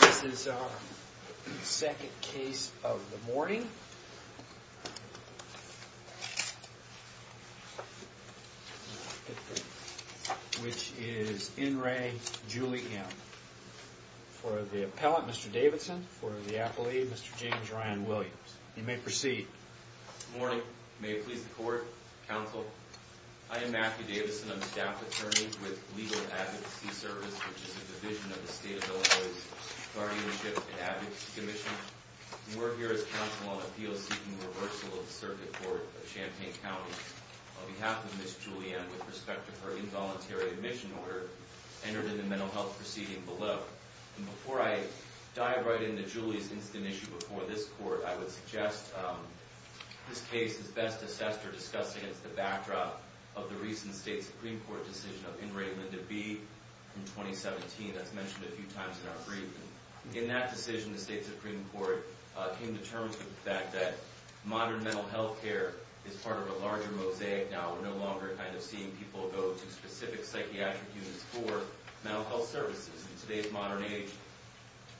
This is our second case of the morning, which is in re Julie M. For the appellate, Mr. Davidson. For the appellate, Mr. James Ryan Williams. You may proceed. Good morning. May it please the court, counsel. I am Matthew Davidson. I'm a staff attorney with Legal Advocacy Service, which is a division of the state of Illinois's Guardianship and Advocacy Commission. And we're here as counsel on appeals seeking reversal of the circuit court of Champaign County. On behalf of Ms. Julie M., with respect to her involuntary admission order entered in the mental health proceeding below. Before I dive right into Julie's instant issue before this court, I would suggest this case is best assessed or discussed against the backdrop of the recent state Supreme Court decision of Inmate Linda B. in 2017. That's mentioned a few times in our briefing. In that decision, the state Supreme Court came to terms with the fact that modern mental health care is part of a larger mosaic now. We're no longer kind of seeing people go to specific psychiatric units for mental health services. In today's modern age,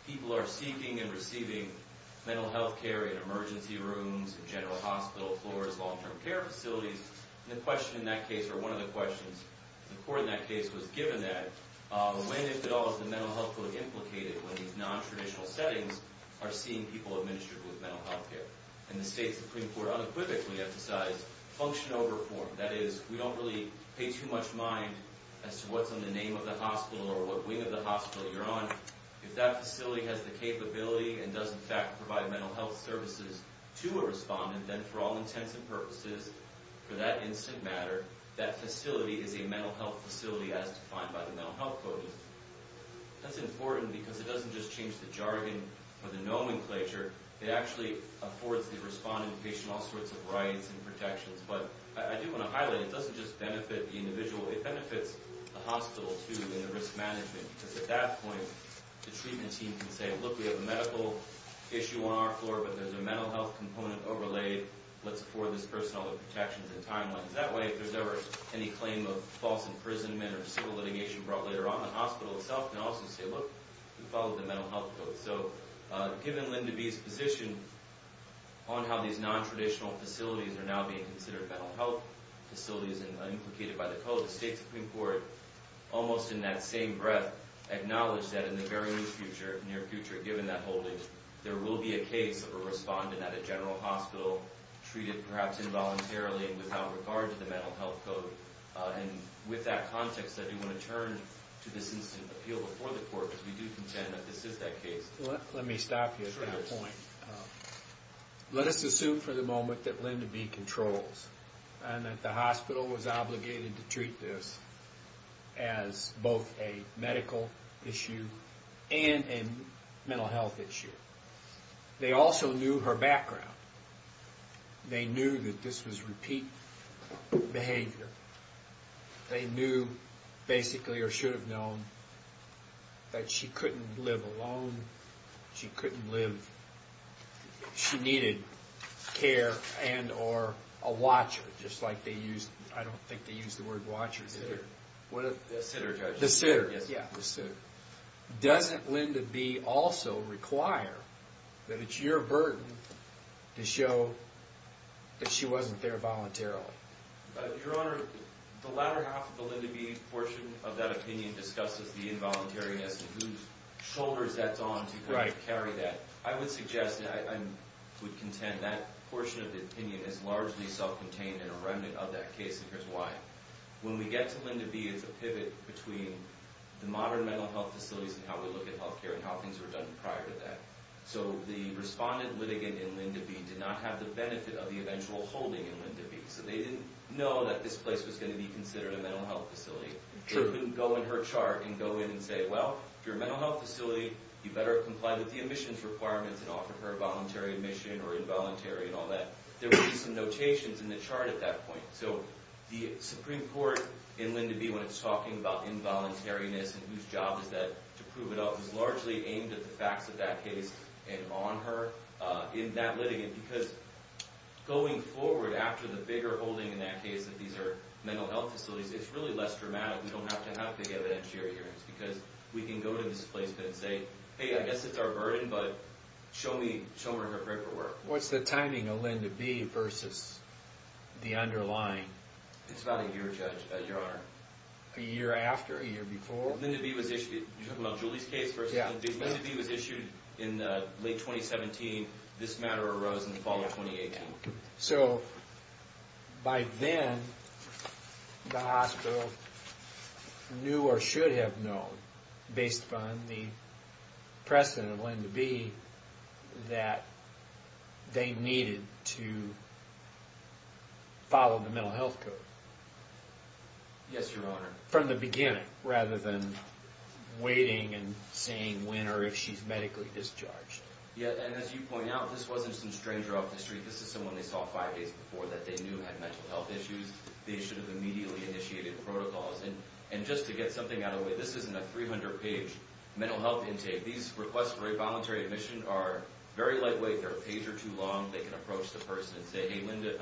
people are seeking and receiving mental health care in emergency rooms, general hospital floors, long term care facilities. And the question in that case or one of the questions the court in that case was given that when, if at all, is the mental health code implicated when these nontraditional settings are seeing people administered with mental health care? And the state Supreme Court unequivocally emphasized function over form. That is, we don't really pay too much mind as to what's on the name of the hospital or what wing of the hospital you're on. If that facility has the capability and does in fact provide mental health services to a respondent, then for all intents and purposes, for that instant matter, that facility is a mental health facility as defined by the mental health code. That's important because it doesn't just change the jargon or the nomenclature. It actually affords the respondent and patient all sorts of rights and protections. But I do want to highlight, it doesn't just benefit the individual. It benefits the hospital, too, and the risk management. Because at that point, the treatment team can say, look, we have a medical issue on our floor, but there's a mental health component overlaid. Let's afford this person all the protections and timelines. That way, if there's ever any claim of false imprisonment or civil litigation brought later on, the hospital itself can also say, look, we follow the mental health code. So given Linda B's position on how these nontraditional facilities are now being considered mental health facilities and implicated by the code, the state Supreme Court, almost in that same breath, acknowledged that in the very near future, given that holdings, there will be a case of a respondent at a general hospital treated perhaps involuntarily and without regard to the mental health code. And with that context, I do want to turn to this instant appeal before the court, because we do contend that this is that case. Let me stop you at that point. Let us assume for the moment that Linda B controls and that the hospital was obligated to treat this as both a medical issue and a mental health issue. They also knew her background. They knew that this was repeat behavior. They knew, basically, or should have known, that she couldn't live alone. She couldn't live. She needed care and or a watcher, just like they use. I don't think they use the word watcher. The sitter. The sitter. The sitter. Yeah, the sitter. Doesn't Linda B also require that it's your burden to show that she wasn't there voluntarily? Your Honor, the latter half of the Linda B portion of that opinion discusses the involuntariness and whose shoulders that's on to carry that. I would suggest that I would contend that portion of the opinion is largely self-contained and a remnant of that case, and here's why. When we get to Linda B, it's a pivot between the modern mental health facilities and how we look at health care and how things were done prior to that. So the respondent litigant in Linda B did not have the benefit of the eventual holding in Linda B. So they didn't know that this place was going to be considered a mental health facility. It wouldn't go in her chart and go in and say, well, if you're a mental health facility, you better comply with the admissions requirements and offer her voluntary admission or involuntary and all that. There would be some notations in the chart at that point. So the Supreme Court in Linda B, when it's talking about involuntariness and whose job is that to prove it up, is largely aimed at the facts of that case and on her in that litigant. Because going forward after the bigger holding in that case that these are mental health facilities, it's really less dramatic. We don't have to have big evidentiary hearings because we can go to this place and say, hey, I guess it's our burden, but show me her paperwork. What's the timing of Linda B versus the underlying? It's about a year, Judge, Your Honor. A year after, a year before? You're talking about Julie's case versus Linda B? Linda B was issued in late 2017. This matter arose in the fall of 2018. So by then, the hospital knew or should have known, based upon the precedent of Linda B, that they needed to follow the mental health code. Yes, Your Honor. From the beginning, rather than waiting and saying when or if she's medically discharged. Yeah, and as you point out, this wasn't some stranger off the street. This is someone they saw five days before that they knew had mental health issues. They should have immediately initiated protocols. And just to get something out of the way, this isn't a 300-page mental health intake. These requests for a voluntary admission are very lightweight. They're a page or two long. They can approach the person and say, hey, Linda,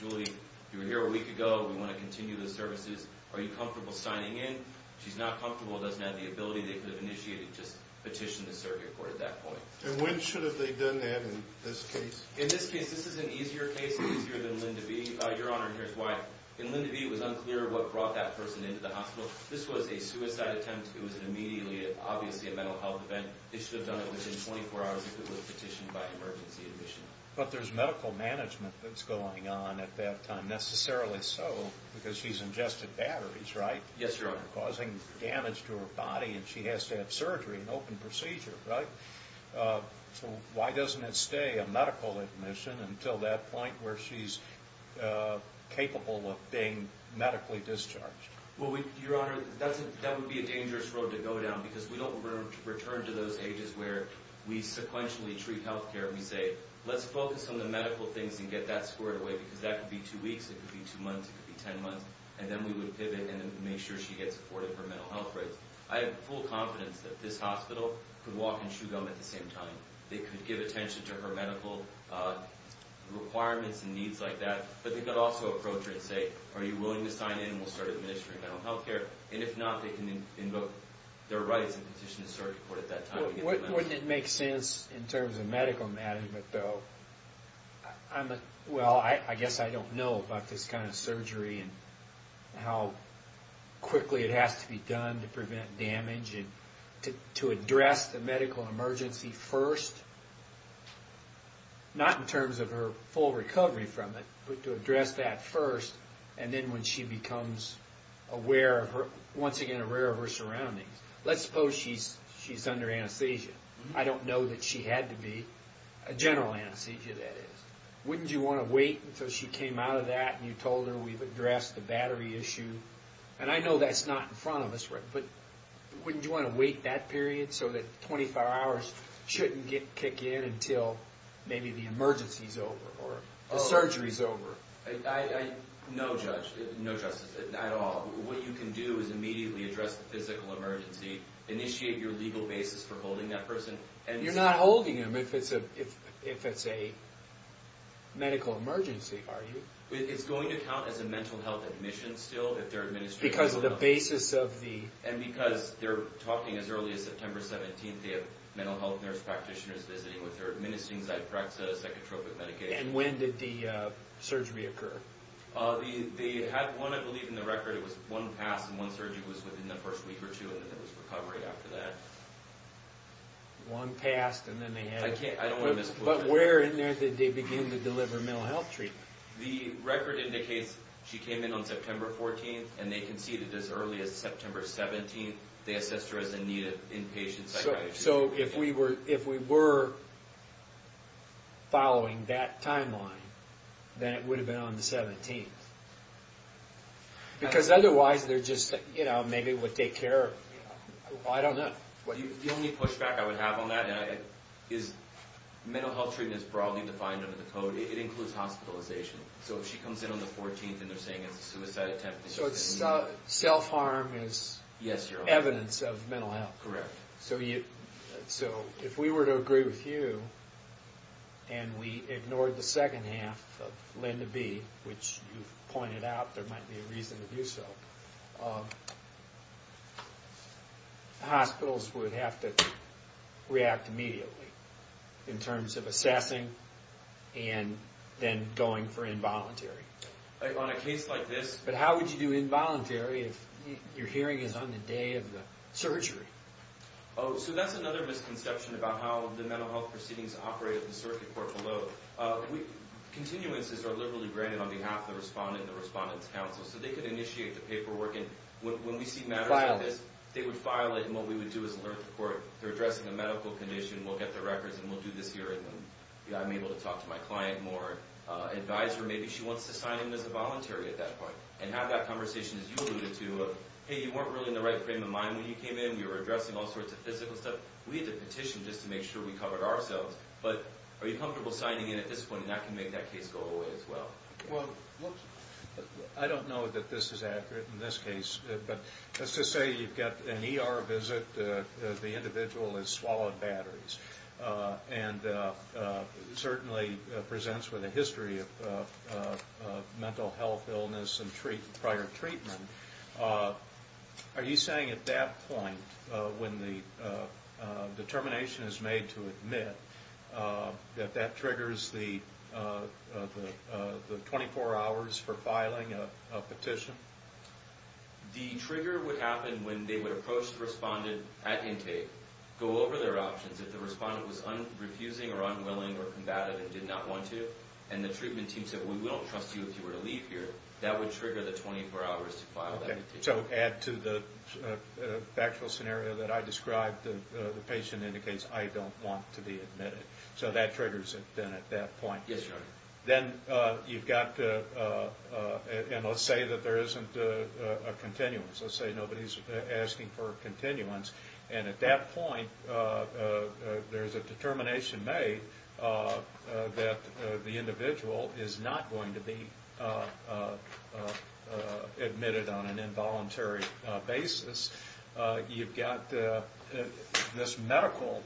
Julie, you were here a week ago. We want to continue the services. Are you comfortable signing in? If she's not comfortable, doesn't have the ability, they could have initiated, just petitioned the circuit court at that point. And when should have they done that in this case? In this case, this is an easier case, easier than Linda B. Your Honor, here's why. In Linda B, it was unclear what brought that person into the hospital. This was a suicide attempt. It was immediately, obviously, a mental health event. They should have done it within 24 hours if it was petitioned by emergency admission. But there's medical management that's going on at that time. Not necessarily so because she's ingested batteries, right? Yes, Your Honor. Causing damage to her body, and she has to have surgery, an open procedure, right? So why doesn't it stay a medical admission until that point where she's capable of being medically discharged? Well, Your Honor, that would be a dangerous road to go down because we don't return to those ages where we sequentially treat health care and we say, let's focus on the medical things and get that squared away because that could be two weeks, it could be two months, it could be ten months, and then we would pivot and make sure she gets afforded her mental health rates. I have full confidence that this hospital could walk and chew gum at the same time. They could give attention to her medical requirements and needs like that, but they could also approach her and say, are you willing to sign in and we'll start administering mental health care? And if not, they can invoke their rights and petition the circuit court at that time. Wouldn't it make sense in terms of medical management, though? Well, I guess I don't know about this kind of surgery and how quickly it has to be done to prevent damage and to address the medical emergency first, not in terms of her full recovery from it, but to address that first and then when she becomes aware of her surroundings. Let's suppose she's under anesthesia. I don't know that she had to be. A general anesthesia, that is. Wouldn't you want to wait until she came out of that and you told her we've addressed the battery issue? And I know that's not in front of us, but wouldn't you want to wait that period so that 25 hours shouldn't kick in until maybe the emergency's over or the surgery's over? No, Judge. No, Justice, at all. What you can do is immediately address the physical emergency, initiate your legal basis for holding that person. You're not holding him if it's a medical emergency, are you? It's going to count as a mental health admission still if they're administering... Because of the basis of the... And because they're talking as early as September 17th, they have mental health nurse practitioners visiting with her administering Zyprexa, psychotropic medication. And when did the surgery occur? They had one, I believe, in the record. It was one pass and one surgery was within the first week or two and then there was recovery after that. One passed and then they had... I don't want to misquote it. But where in there did they begin to deliver mental health treatment? The record indicates she came in on September 14th and they conceded as early as September 17th. They assessed her as in need of inpatient psychotropic medication. So if we were following that timeline, then it would have been on the 17th. Because otherwise they're just... Maybe it would take care of... I don't know. The only pushback I would have on that is mental health treatment is broadly defined under the code. It includes hospitalization. So if she comes in on the 14th and they're saying it's a suicide attempt... So self-harm is evidence of mental health. Correct. So if we were to agree with you and we ignored the second half of Linda B, which you've pointed out there might be a reason to do so, hospitals would have to react immediately in terms of assessing and then going for involuntary. On a case like this... But how would you do involuntary if your hearing is on the day of the surgery? So that's another misconception about how the mental health proceedings operate at the circuit court below. Continuances are liberally granted on behalf of the respondent and the respondent's counsel. So they could initiate the paperwork. When we see matters like this, they would file it. And what we would do is alert the court. They're addressing a medical condition. We'll get the records and we'll do this hearing. I'm able to talk to my client more, advise her. Maybe she wants to sign in as a voluntary at that point and have that conversation, as you alluded to, of, hey, you weren't really in the right frame of mind when you came in. You were addressing all sorts of physical stuff. We had to petition just to make sure we covered ourselves. But are you comfortable signing in at this point? And that can make that case go away as well. Well, I don't know that this is accurate in this case. But let's just say you've got an ER visit. The individual has swallowed batteries and certainly presents with a history of mental health illness and prior treatment. Are you saying at that point, when the determination is made to admit, that that triggers the 24 hours for filing a petition? The trigger would happen when they would approach the respondent at intake, go over their options. If the respondent was refusing or unwilling or combative and did not want to, and the treatment team said, well, we don't trust you if you were to leave here, that would trigger the 24 hours to file that petition. So add to the factual scenario that I described. The patient indicates, I don't want to be admitted. So that triggers it then at that point. Yes, Your Honor. Then you've got, and let's say that there isn't a continuance. Let's say nobody's asking for a continuance. And at that point, there's a determination made that the individual is not going to be admitted on an involuntary basis. You've got this medical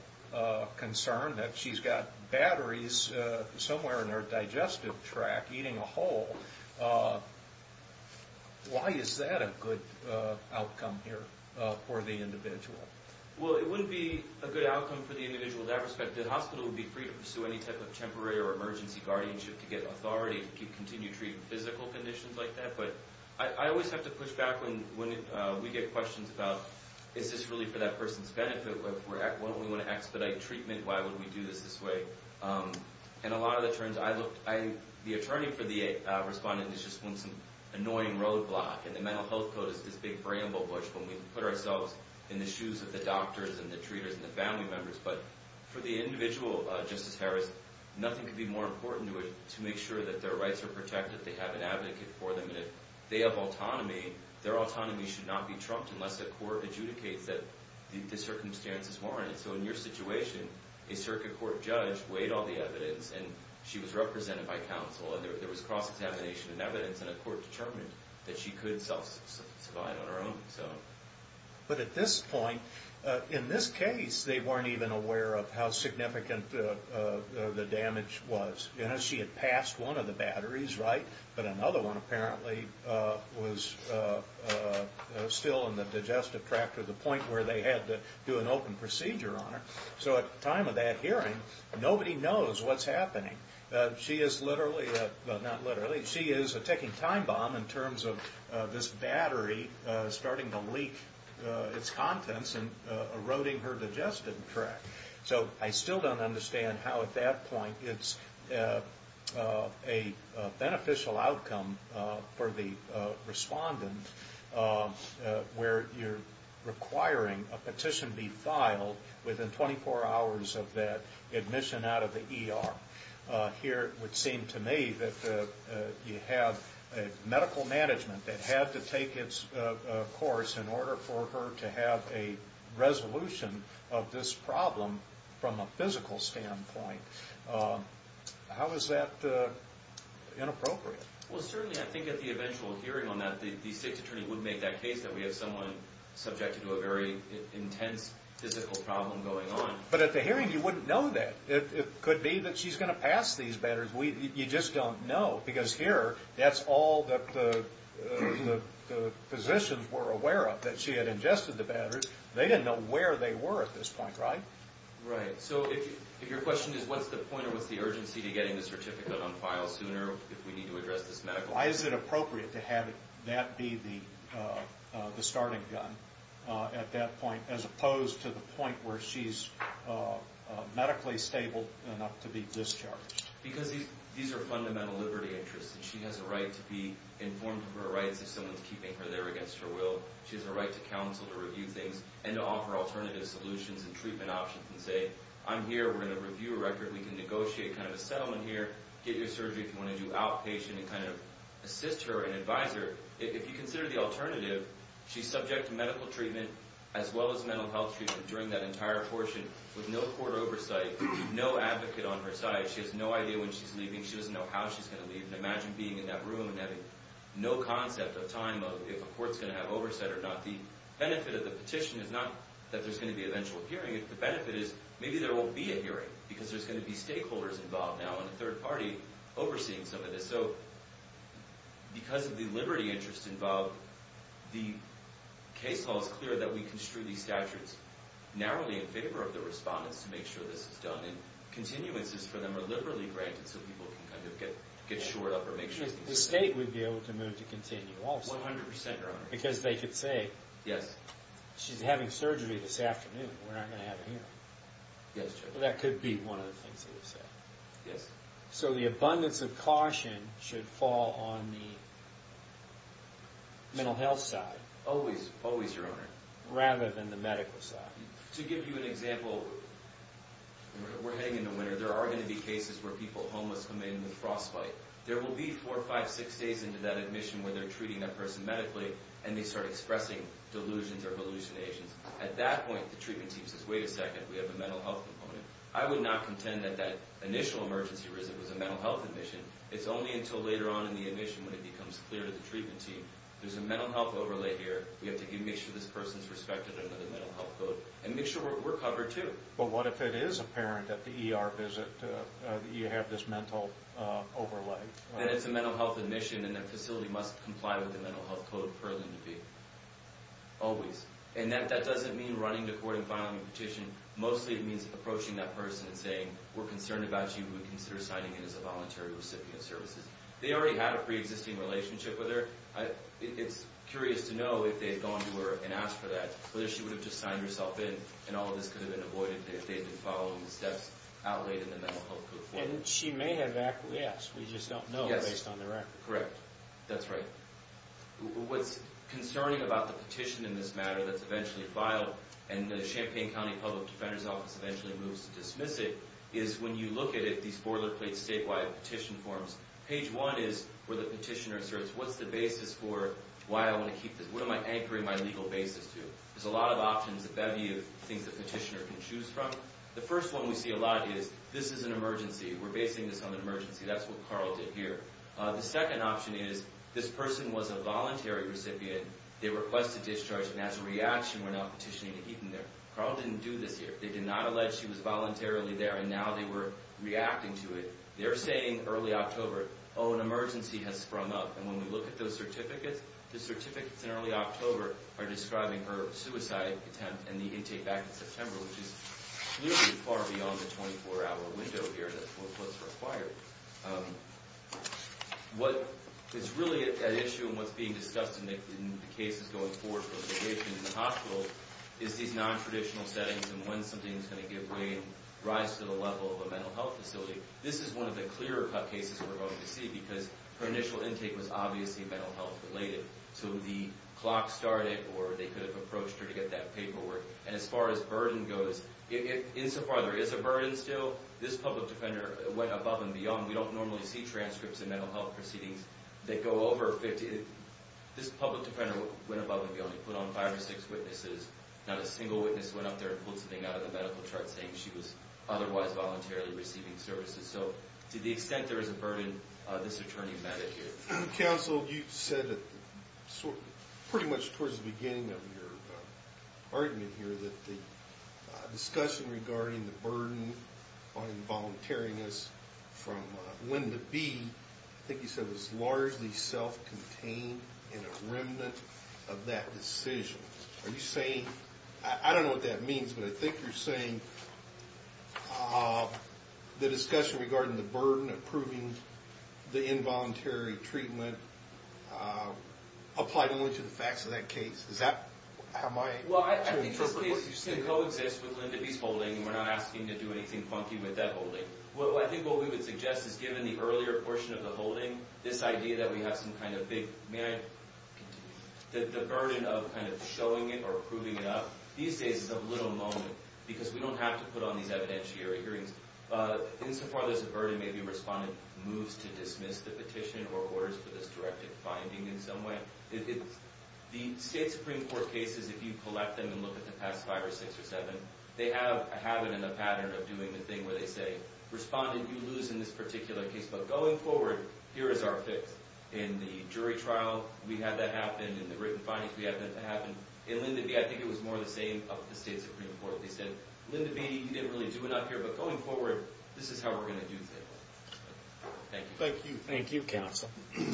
concern that she's got batteries somewhere in her digestive tract eating a hole. Why is that a good outcome here for the individual? Well, it wouldn't be a good outcome for the individual in that respect. The hospital would be free to pursue any type of temporary or emergency guardianship to get authority to continue to treat physical conditions like that. But I always have to push back when we get questions about, is this really for that person's benefit? Why don't we want to expedite treatment? Why would we do this this way? In a lot of the terms, the attorney for the respondent just wants some annoying roadblock. And the mental health code is this big bramble bush when we put ourselves in the shoes of the doctors and the treaters and the family members. But for the individual, Justice Harris, nothing could be more important to it to make sure that their rights are protected, they have an advocate for them, and if they have autonomy, their autonomy should not be trumped unless the court adjudicates that the circumstances warrant it. And so in your situation, a circuit court judge weighed all the evidence and she was represented by counsel. There was cross-examination and evidence, and a court determined that she could self-suffine on her own. But at this point, in this case, they weren't even aware of how significant the damage was. She had passed one of the batteries, right? But another one apparently was still in the digestive tract to the point where they had to do an open procedure on her. So at the time of that hearing, nobody knows what's happening. She is literally, well, not literally, she is a ticking time bomb in terms of this battery starting to leak its contents and eroding her digestive tract. So I still don't understand how at that point it's a beneficial outcome for the respondent where you're requiring a petition be filed within 24 hours of that admission out of the ER. Here it would seem to me that you have medical management that had to take its course in order for her to have a resolution of this problem from a physical standpoint. How is that inappropriate? Well, certainly I think at the eventual hearing on that the state's attorney would make that case that we have someone subjected to a very intense physical problem going on. But at the hearing, you wouldn't know that. It could be that she's going to pass these batteries. You just don't know because here, that's all that the physicians were aware of, that she had ingested the batteries. They didn't know where they were at this point, right? Right. So if your question is what's the point or what's the urgency to getting the certificate on file sooner if we need to address this medically? Why is it appropriate to have that be the starting gun at that point as opposed to the point where she's medically stable enough to be discharged? Because these are fundamental liberty interests. She has a right to be informed of her rights if someone's keeping her there against her will. She has a right to counsel, to review things, and to offer alternative solutions and treatment options and say, I'm here, we're going to review a record, we can negotiate kind of a settlement here, get you a surgery if you want to do outpatient and kind of assist her and advise her. If you consider the alternative, she's subject to medical treatment as well as mental health treatment during that entire portion with no court oversight, no advocate on her side. She has no idea when she's leaving. She doesn't know how she's going to leave. Imagine being in that room and having no concept of time of if a court's going to have oversight or not. The benefit of the petition is not that there's going to be an eventual hearing. The benefit is maybe there won't be a hearing because there's going to be stakeholders involved now and a third party overseeing some of this. So because of the liberty interest involved, the case law is clear that we construe these statutes narrowly in favor of the respondents to make sure this is done, and continuances for them are liberally granted so people can kind of get shored up or make sure things are done. The state would be able to move to continue also. 100%. Because they could say, she's having surgery this afternoon, we're not going to have a hearing. That could be one of the things they would say. Yes. So the abundance of caution should fall on the mental health side. Always, always, Your Honor. Rather than the medical side. To give you an example, we're heading into winter. There are going to be cases where people homeless come in with frostbite. There will be four, five, six days into that admission where they're treating that person medically and they start expressing delusions or hallucinations. At that point, the treatment team says, wait a second, we have a mental health component. I would not contend that that initial emergency visit was a mental health admission. It's only until later on in the admission when it becomes clear to the treatment team, there's a mental health overlay here. We have to make sure this person is respected under the mental health code and make sure we're covered too. But what if it is apparent at the ER visit that you have this mental overlay? Then it's a mental health admission and the facility must comply with the mental health code for them to be. Always. And that doesn't mean running to court and filing a petition. Mostly it means approaching that person and saying, we're concerned about you. We would consider signing in as a voluntary recipient of services. They already had a pre-existing relationship with her. It's curious to know if they had gone to her and asked for that, whether she would have just signed herself in and all of this could have been avoided if they had been following the steps outlaid in the mental health code. And she may have acquiesced. We just don't know based on the record. Correct. That's right. What's concerning about the petition in this matter that's eventually filed and the Champaign County Public Defender's Office eventually moves to dismiss it is when you look at it, these boilerplate statewide petition forms, page one is where the petitioner asserts, what's the basis for why I want to keep this? What am I anchoring my legal basis to? There's a lot of options, a bevy of things the petitioner can choose from. The first one we see a lot is, this is an emergency. We're basing this on an emergency. That's what Carl did here. The second option is, this person was a voluntary recipient. They requested discharge, and as a reaction went out petitioning to keep them there. Carl didn't do this here. They did not allege she was voluntarily there, and now they were reacting to it. They're saying early October, oh, an emergency has sprung up. And when we look at those certificates, the certificates in early October are describing her suicide attempt and the intake back in September, which is nearly far beyond the 24-hour window here. That's what's required. What is really at issue and what's being discussed in the cases going forward for litigation in the hospitals is these nontraditional settings and when something is going to give way and rise to the level of a mental health facility. This is one of the clearer-cut cases we're going to see because her initial intake was obviously mental health-related. So the clock started, or they could have approached her to get that paperwork. And as far as burden goes, insofar there is a burden still, this public defender went above and beyond. We don't normally see transcripts in mental health proceedings that go over 50. This public defender went above and beyond. He put on five or six witnesses. Not a single witness went up there and pulled something out of the medical chart saying she was otherwise voluntarily receiving services. So to the extent there is a burden, this attorney met it here. Counsel, you said pretty much towards the beginning of your argument here that the discussion regarding the burden on involuntariness from when to be, I think you said it was largely self-contained and a remnant of that decision. Are you saying, I don't know what that means, but I think you're saying the discussion regarding the burden approving the involuntary treatment applied only to the facts of that case. Well, I think this case coexists with Linda B's holding, and we're not asking to do anything funky with that holding. I think what we would suggest is given the earlier portion of the holding, this idea that we have some kind of big, may I? The burden of kind of showing it or proving it up, these days it's a little moment because we don't have to put on these evidentiary hearings. Insofar there's a burden, maybe a respondent moves to dismiss the petition or orders for this directed finding in some way. The State Supreme Court cases, if you collect them and look at the past five or six or seven, they have it in a pattern of doing the thing where they say, Respondent, you lose in this particular case, but going forward, here is our fix. In the jury trial, we had that happen. In the written findings, we had that happen. In Linda B, I think it was more the same of the State Supreme Court. They said, Linda B, you didn't really do enough here, but going forward, this is how we're going to do things. Thank you. Thank you. Thank you, counsel. Thank you.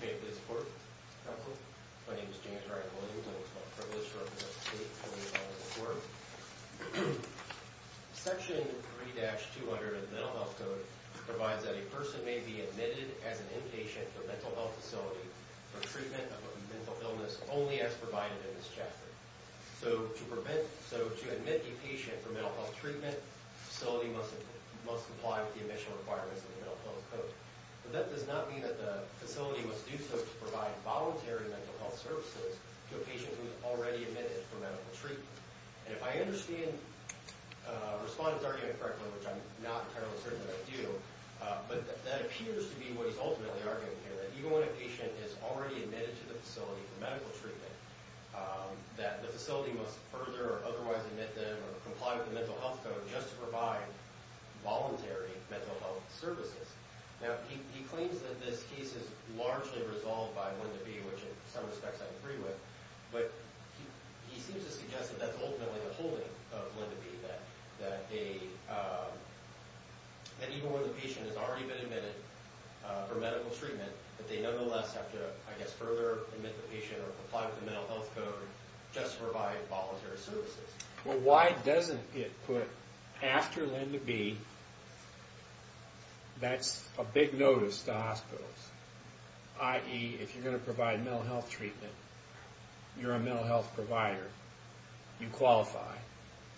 May I have the support? Counsel? My name is James Rangel, and it's my privilege to represent the State Supreme Court. Section 3-200 of the Mental Health Code provides that a person may be admitted as an inpatient to a mental health facility for treatment of a mental illness only as provided in this chapter. So to admit a patient for mental health treatment, the facility must comply with the admission requirements of the Mental Health Code. But that does not mean that the facility must do so to provide voluntary mental health services to a patient who is already admitted for medical treatment. And if I understand Respondent's argument correctly, which I'm not entirely certain that I do, but that appears to be what he's ultimately arguing here, that even when a patient is already admitted to the facility for medical treatment, that the facility must further or otherwise admit them or comply with the Mental Health Code just to provide voluntary mental health services. Now, he claims that this case is largely resolved by Lend-A-Be, which in some respects I agree with. But he seems to suggest that that's ultimately the holding of Lend-A-Be, that even when the patient has already been admitted for medical treatment, that they nonetheless have to, I guess, further admit the patient or comply with the Mental Health Code just to provide voluntary services. Well, why doesn't it put after Lend-A-Be, that's a big notice to hospitals, i.e., if you're going to provide mental health treatment, you're a mental health provider, you qualify.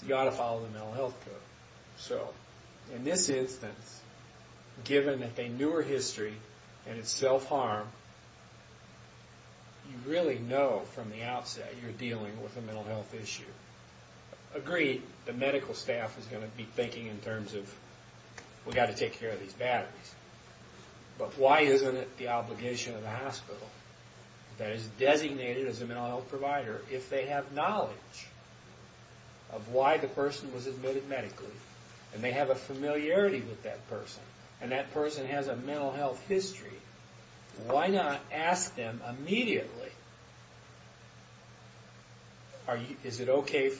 You ought to follow the Mental Health Code. So, in this instance, given that they knew her history and it's self-harm, you really know from the outset you're dealing with a mental health issue. Agreed, the medical staff is going to be thinking in terms of, we've got to take care of these batteries. But why isn't it the obligation of the hospital, that is designated as a mental health provider, if they have knowledge of why the person was admitted medically and they have a familiarity with that person, and that person has a mental health history, why not ask them immediately, is it okay,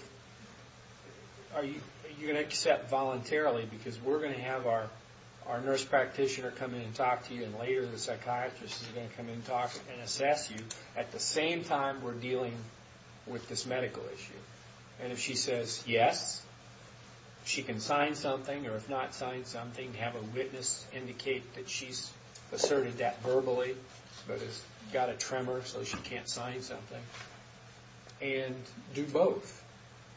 are you going to accept voluntarily, because we're going to have our nurse practitioner come in and talk to you, and later the psychiatrist is going to come in and talk and assess you, at the same time we're dealing with this medical issue. And if she says yes, she can sign something, or if not, sign something, have a witness indicate that she's asserted that verbally, but has got a tremor so she can't sign something, and do both,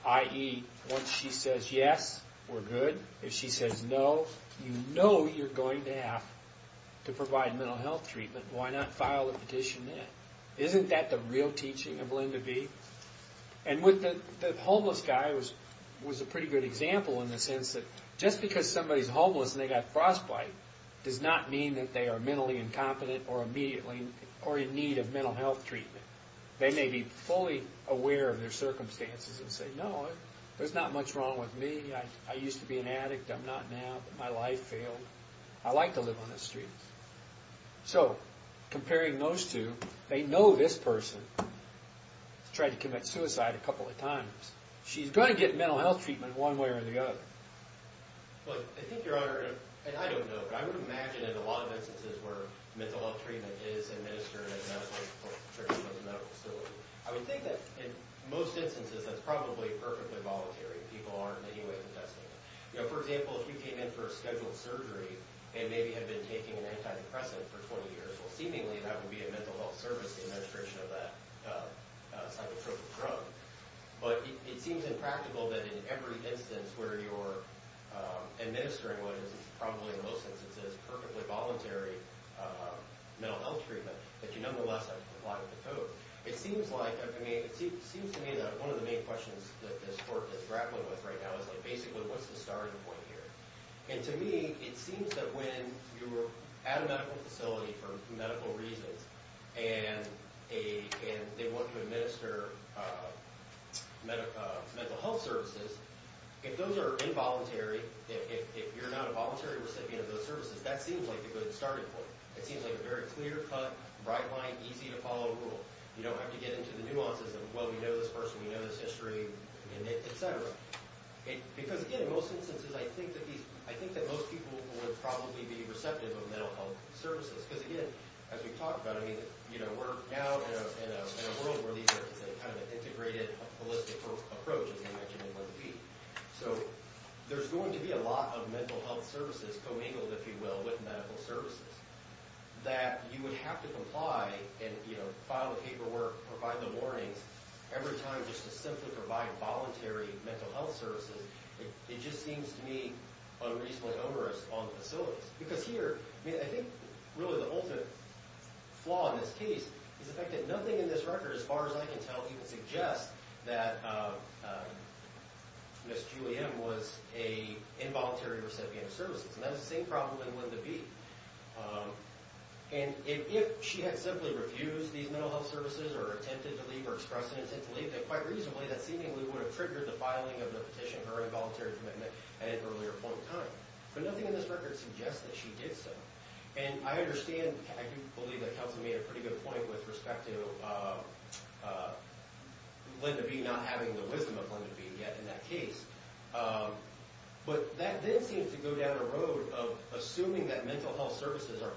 i.e., once she says yes, we're good. If she says no, you know you're going to have to provide mental health treatment, why not file a petition then? Isn't that the real teaching of Linda B? And the homeless guy was a pretty good example in the sense that, just because somebody's homeless and they've got frostbite, does not mean that they are mentally incompetent, or in need of mental health treatment. They may be fully aware of their circumstances and say, no, there's not much wrong with me, I used to be an addict, I'm not now, my life failed, I like to live on the streets. So, comparing those two, they know this person has tried to commit suicide a couple of times. She's going to get mental health treatment one way or the other. But, I think, Your Honor, and I don't know, but I would imagine in a lot of instances where mental health treatment is administered at a medical facility, I would think that in most instances that's probably perfectly voluntary, people aren't in any way contesting it. For example, if you came in for a scheduled surgery, and maybe had been taking an antidepressant for 20 years, well, seemingly that would be a mental health service, the administration of that psychotropic drug. But it seems impractical that in every instance where you're administering what is probably in most instances perfectly voluntary mental health treatment, that you nonetheless have to comply with the code. It seems to me that one of the main questions that this Court is grappling with right now is basically what's the starting point here? And to me, it seems that when you're at a medical facility for medical reasons, and they want to administer mental health services, if those are involuntary, if you're not a voluntary recipient of those services, that seems like a good starting point. It seems like a very clear-cut, bright-line, easy-to-follow rule. You don't have to get into the nuances of, well, we know this person, we know this history, and et cetera. Because, again, in most instances, I think that most people would probably be receptive of mental health services. Because, again, as we've talked about, we're now in a world where these are kind of an integrated, holistic approach, as you mentioned, they'd like to be. So there's going to be a lot of mental health services co-mingled, if you will, with medical services, that you would have to comply and file the paperwork, provide the warnings, every time, just to simply provide voluntary mental health services. It just seems to me unreasonably onerous on the facilities. Because here, I think, really, the ultimate flaw in this case is the fact that nothing in this record, as far as I can tell, even suggests that Ms. Julie M. was an involuntary recipient of services. And that's the same problem in Linda B. And if she had simply refused these mental health services, or attempted to leave, or expressed an intent to leave, then quite reasonably, that seemingly would have triggered the filing of the petition for her involuntary commitment at an earlier point in time. But nothing in this record suggests that she did so. And I understand, I do believe that Kelsey made a pretty good point with respect to Linda B. not having the wisdom of Linda B. yet in that case. But that then seems to go down a road of assuming that mental health services are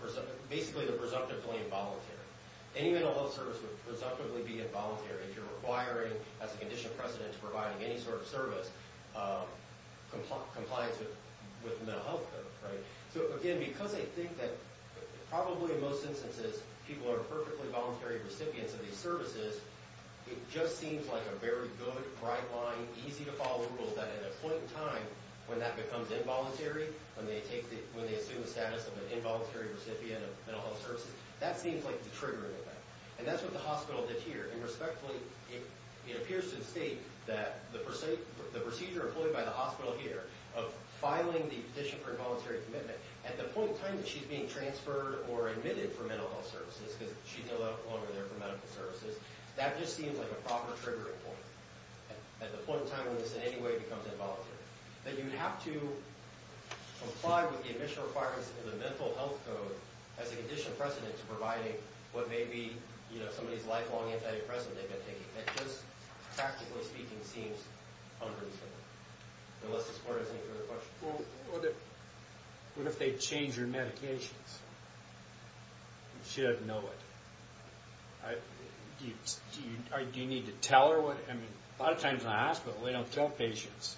basically the presumptively involuntary. Any mental health service would presumptively be involuntary if you're requiring, as a condition of precedent, to provide any sort of service in compliance with the mental health code. So again, because I think that probably in most instances people are perfectly voluntary recipients of these services, it just seems like a very good, bright line, easy-to-follow rule that at a point in time when that becomes involuntary, when they assume the status of an involuntary recipient of mental health services, that seems like the triggering event. And that's what the hospital did here. And respectfully, it appears to state that the procedure employed by the hospital here of filing the petition for involuntary commitment at the point in time that she's being transferred or admitted for mental health services, because she's no longer there for medical services, that just seems like a proper triggering point, at the point in time when this in any way becomes involuntary. That you have to comply with the admission requirements of the mental health code as a condition of precedent to providing what may be somebody's lifelong antidepressant they've been taking. It just, practically speaking, seems unpredictable. Unless this board has any further questions. Well, what if they change your medications? She doesn't know it. Do you need to tell her? I mean, a lot of times in the hospital they don't tell patients,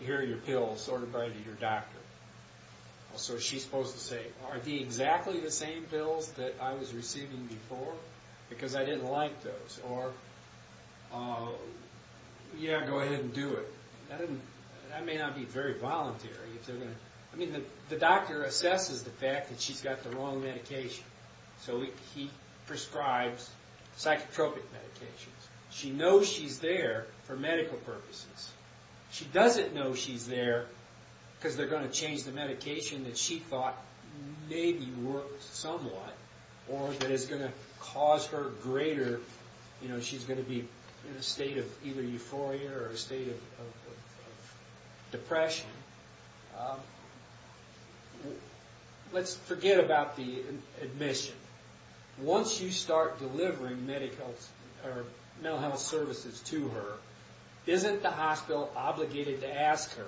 here are your pills, sort them by your doctor. So she's supposed to say, are they exactly the same pills that I was receiving before? Because I didn't like those. Or, yeah, go ahead and do it. That may not be very voluntary. I mean, the doctor assesses the fact that she's got the wrong medication. So he prescribes psychotropic medications. She knows she's there for medical purposes. She doesn't know she's there because they're going to change the medication that she thought maybe worked somewhat, or that is going to cause her greater, you know, she's going to be in a state of either euphoria or a state of depression. Let's forget about the admission. Once you start delivering medical or mental health services to her, isn't the hospital obligated to ask her,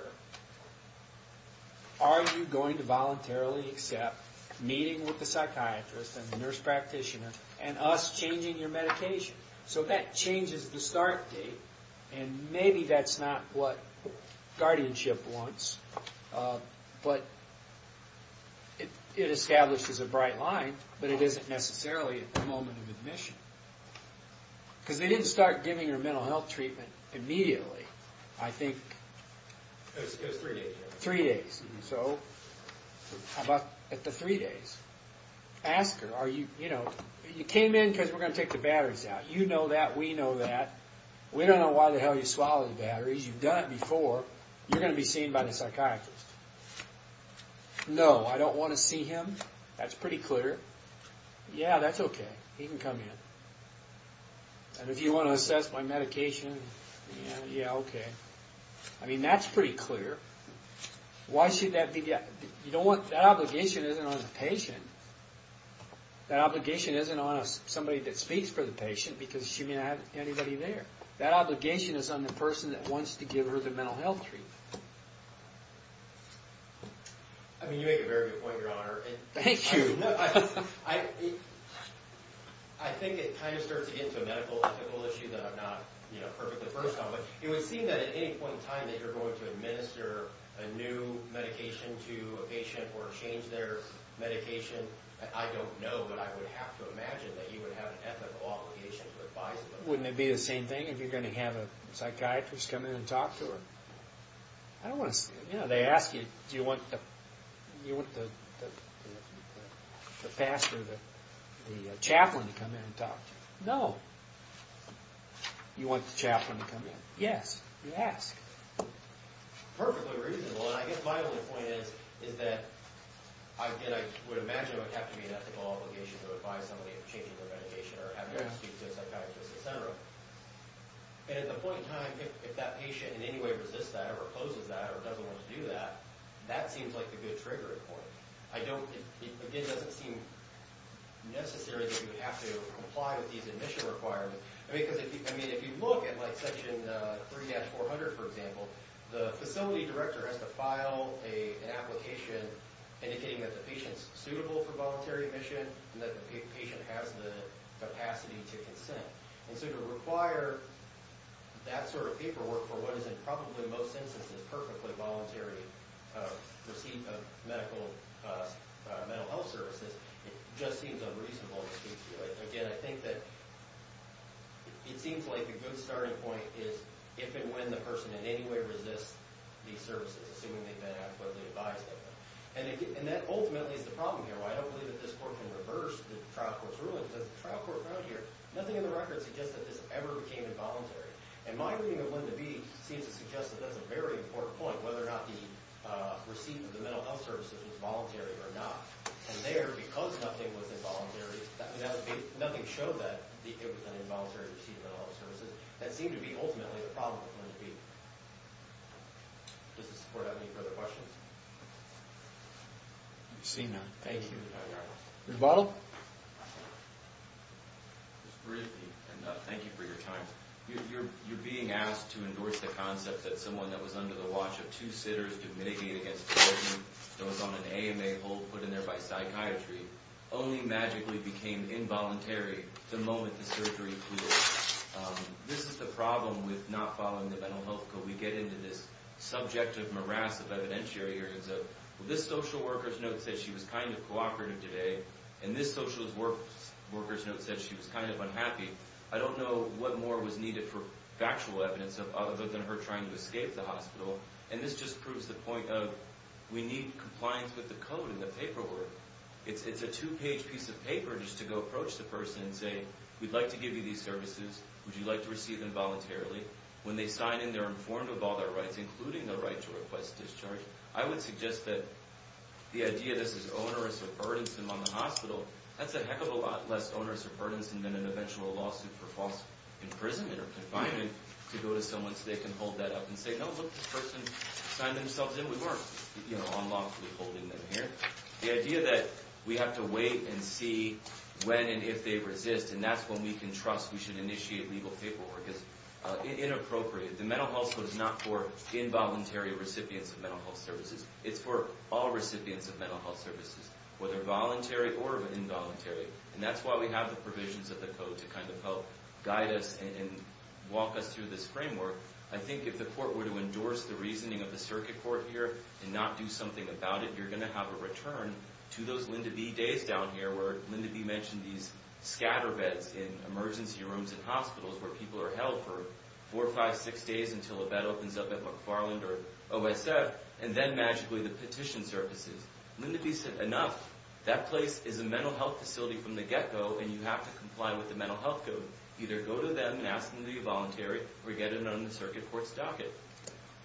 are you going to voluntarily accept meeting with the psychiatrist and the nurse practitioner and us changing your medication? So that changes the start date, and maybe that's not what guardianship wants, but it establishes a bright line, but it isn't necessarily a moment of admission. Because they didn't start giving her mental health treatment immediately. I think... It was three days. Three days. So, at the three days, ask her, you know, you came in because we're going to take the batteries out. You know that, we know that. We don't know why the hell you swallowed the batteries. You've done it before. You're going to be seen by the psychiatrist. No, I don't want to see him. That's pretty clear. Yeah, that's okay. He can come in. And if you want to assess my medication, yeah, okay. I mean, that's pretty clear. Why should that be... You know what? That obligation isn't on the patient. That obligation isn't on somebody that speaks for the patient because she may not have anybody there. That obligation is on the person that wants to give her the mental health treatment. I mean, you make a very good point, Your Honor. Thank you. I think it kind of starts into a medical ethical issue that I'm not perfectly versed on. But it would seem that at any point in time that you're going to administer a new medication to a patient or change their medication. I don't know, but I would have to imagine that you would have an ethical obligation to advise them. Wouldn't it be the same thing if you're going to have a psychiatrist come in and talk to her? I don't want to... You know, they ask you, do you want the pastor, the chaplain to come in and talk to you? No. You want the chaplain to come in? Yes. You ask. Perfectly reasonable. And I guess my only point is that I would imagine it would have to be an ethical obligation to advise somebody of changing their medication or having them speak to a psychiatrist, etc. And at the point in time, if that patient in any way resists that or opposes that or doesn't want to do that, that seems like a good trigger point. I don't... Again, it doesn't seem necessary that you have to comply with these admission requirements. I mean, if you look at, like, Section 3-400, for example, the facility director has to file an application indicating that the patient's suitable for voluntary admission and that the patient has the capacity to consent. And so to require that sort of paperwork for what is in probably most instances perfectly voluntary receipt of medical... mental health services, it just seems unreasonable to speak to it. Again, I think that it seems like a good starting point is if and when the person in any way resists these services, assuming they've been adequately advised of them. And that ultimately is the problem here. I don't believe that this court can reverse the trial court's ruling because the trial court found here nothing in the record suggests that this ever became involuntary. And my reading of Linda B. seems to suggest that that's a very important point, whether or not the receipt of the mental health services was voluntary or not. And there, because nothing was involuntary, nothing showed that it was an involuntary receipt of mental health services. That seemed to be ultimately the problem with Linda B. Does the court have any further questions? I see none. Thank you. Ms. Bottle? Just briefly, and thank you for your time. You're being asked to endorse the concept that someone that was under the watch of two sitters to mitigate against a person that was on an AMA hold put in there by psychiatry only magically became involuntary the moment the surgery cleared. This is the problem with not following the mental health code. We get into this subjective morass of evidentiary arguments of this social worker's note says she was kind of cooperative today, and this social worker's note says she was kind of unhappy. I don't know what more was needed for factual evidence other than her trying to escape the hospital. And this just proves the point of we need compliance with the code and the paperwork. It's a two-page piece of paper just to go approach the person and say, we'd like to give you these services. Would you like to receive them voluntarily? When they sign in, they're informed of all their rights, including the right to request discharge. I would suggest that the idea this is onerous or burdensome on the hospital, that's a heck of a lot less onerous or burdensome than an eventual lawsuit for false imprisonment or confinement to go to someone so they can hold that up and say, no, look, this person signed themselves in. We weren't, you know, unlawfully holding them here. The idea that we have to wait and see when and if they resist, and that's when we can trust we should initiate legal paperwork is inappropriate. The mental health code is not for involuntary recipients of mental health services. It's for all recipients of mental health services, whether voluntary or involuntary. And that's why we have the provisions of the code to kind of help guide us and walk us through this framework. I think if the court were to endorse the reasoning of the circuit court here and not do something about it, you're going to have a return to those Linda B. days down here where Linda B. mentioned these scatter beds in emergency rooms and hospitals where people are held for four, five, six days until a bed opens up at McFarland or OSF and then magically the petition surfaces. Linda B. said, enough. That place is a mental health facility from the get-go and you have to comply with the mental health code. Either go to them and ask them to be voluntary or get it on the circuit court's docket.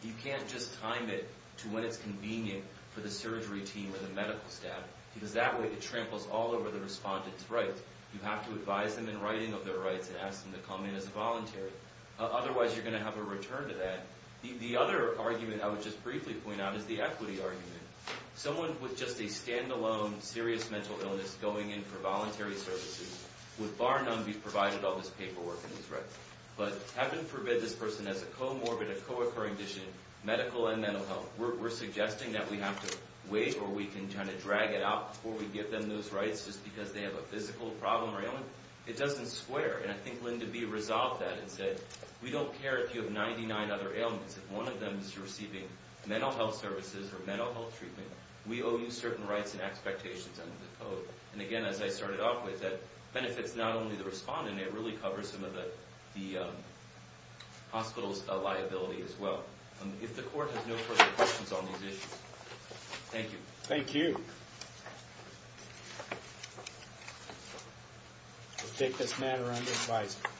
You can't just time it to when it's convenient for the surgery team or the medical staff because that way it tramples all over the respondent's rights. You have to advise them in writing of their rights and ask them to come in as voluntary. Otherwise, you're going to have a return to that. The other argument I would just briefly point out is the equity argument. Someone with just a stand-alone serious mental illness going in for voluntary services would bar none be provided all this paperwork and these rights. But heaven forbid this person has a comorbid, a co-occurring condition, medical and mental health. We're suggesting that we have to wait or we can kind of drag it out before we give them those rights just because they have a physical problem or ailment. It doesn't square. And I think Linda B. resolved that and said, we don't care if you have 99 other ailments. If one of them is you're receiving mental health services or mental health treatment, we owe you certain rights and expectations under the code. And again, as I started off with, that benefits not only the respondent, it really covers some of the hospital's liability as well. If the court has no further questions on these issues. Thank you. Thank you. We'll take this matter under advisory.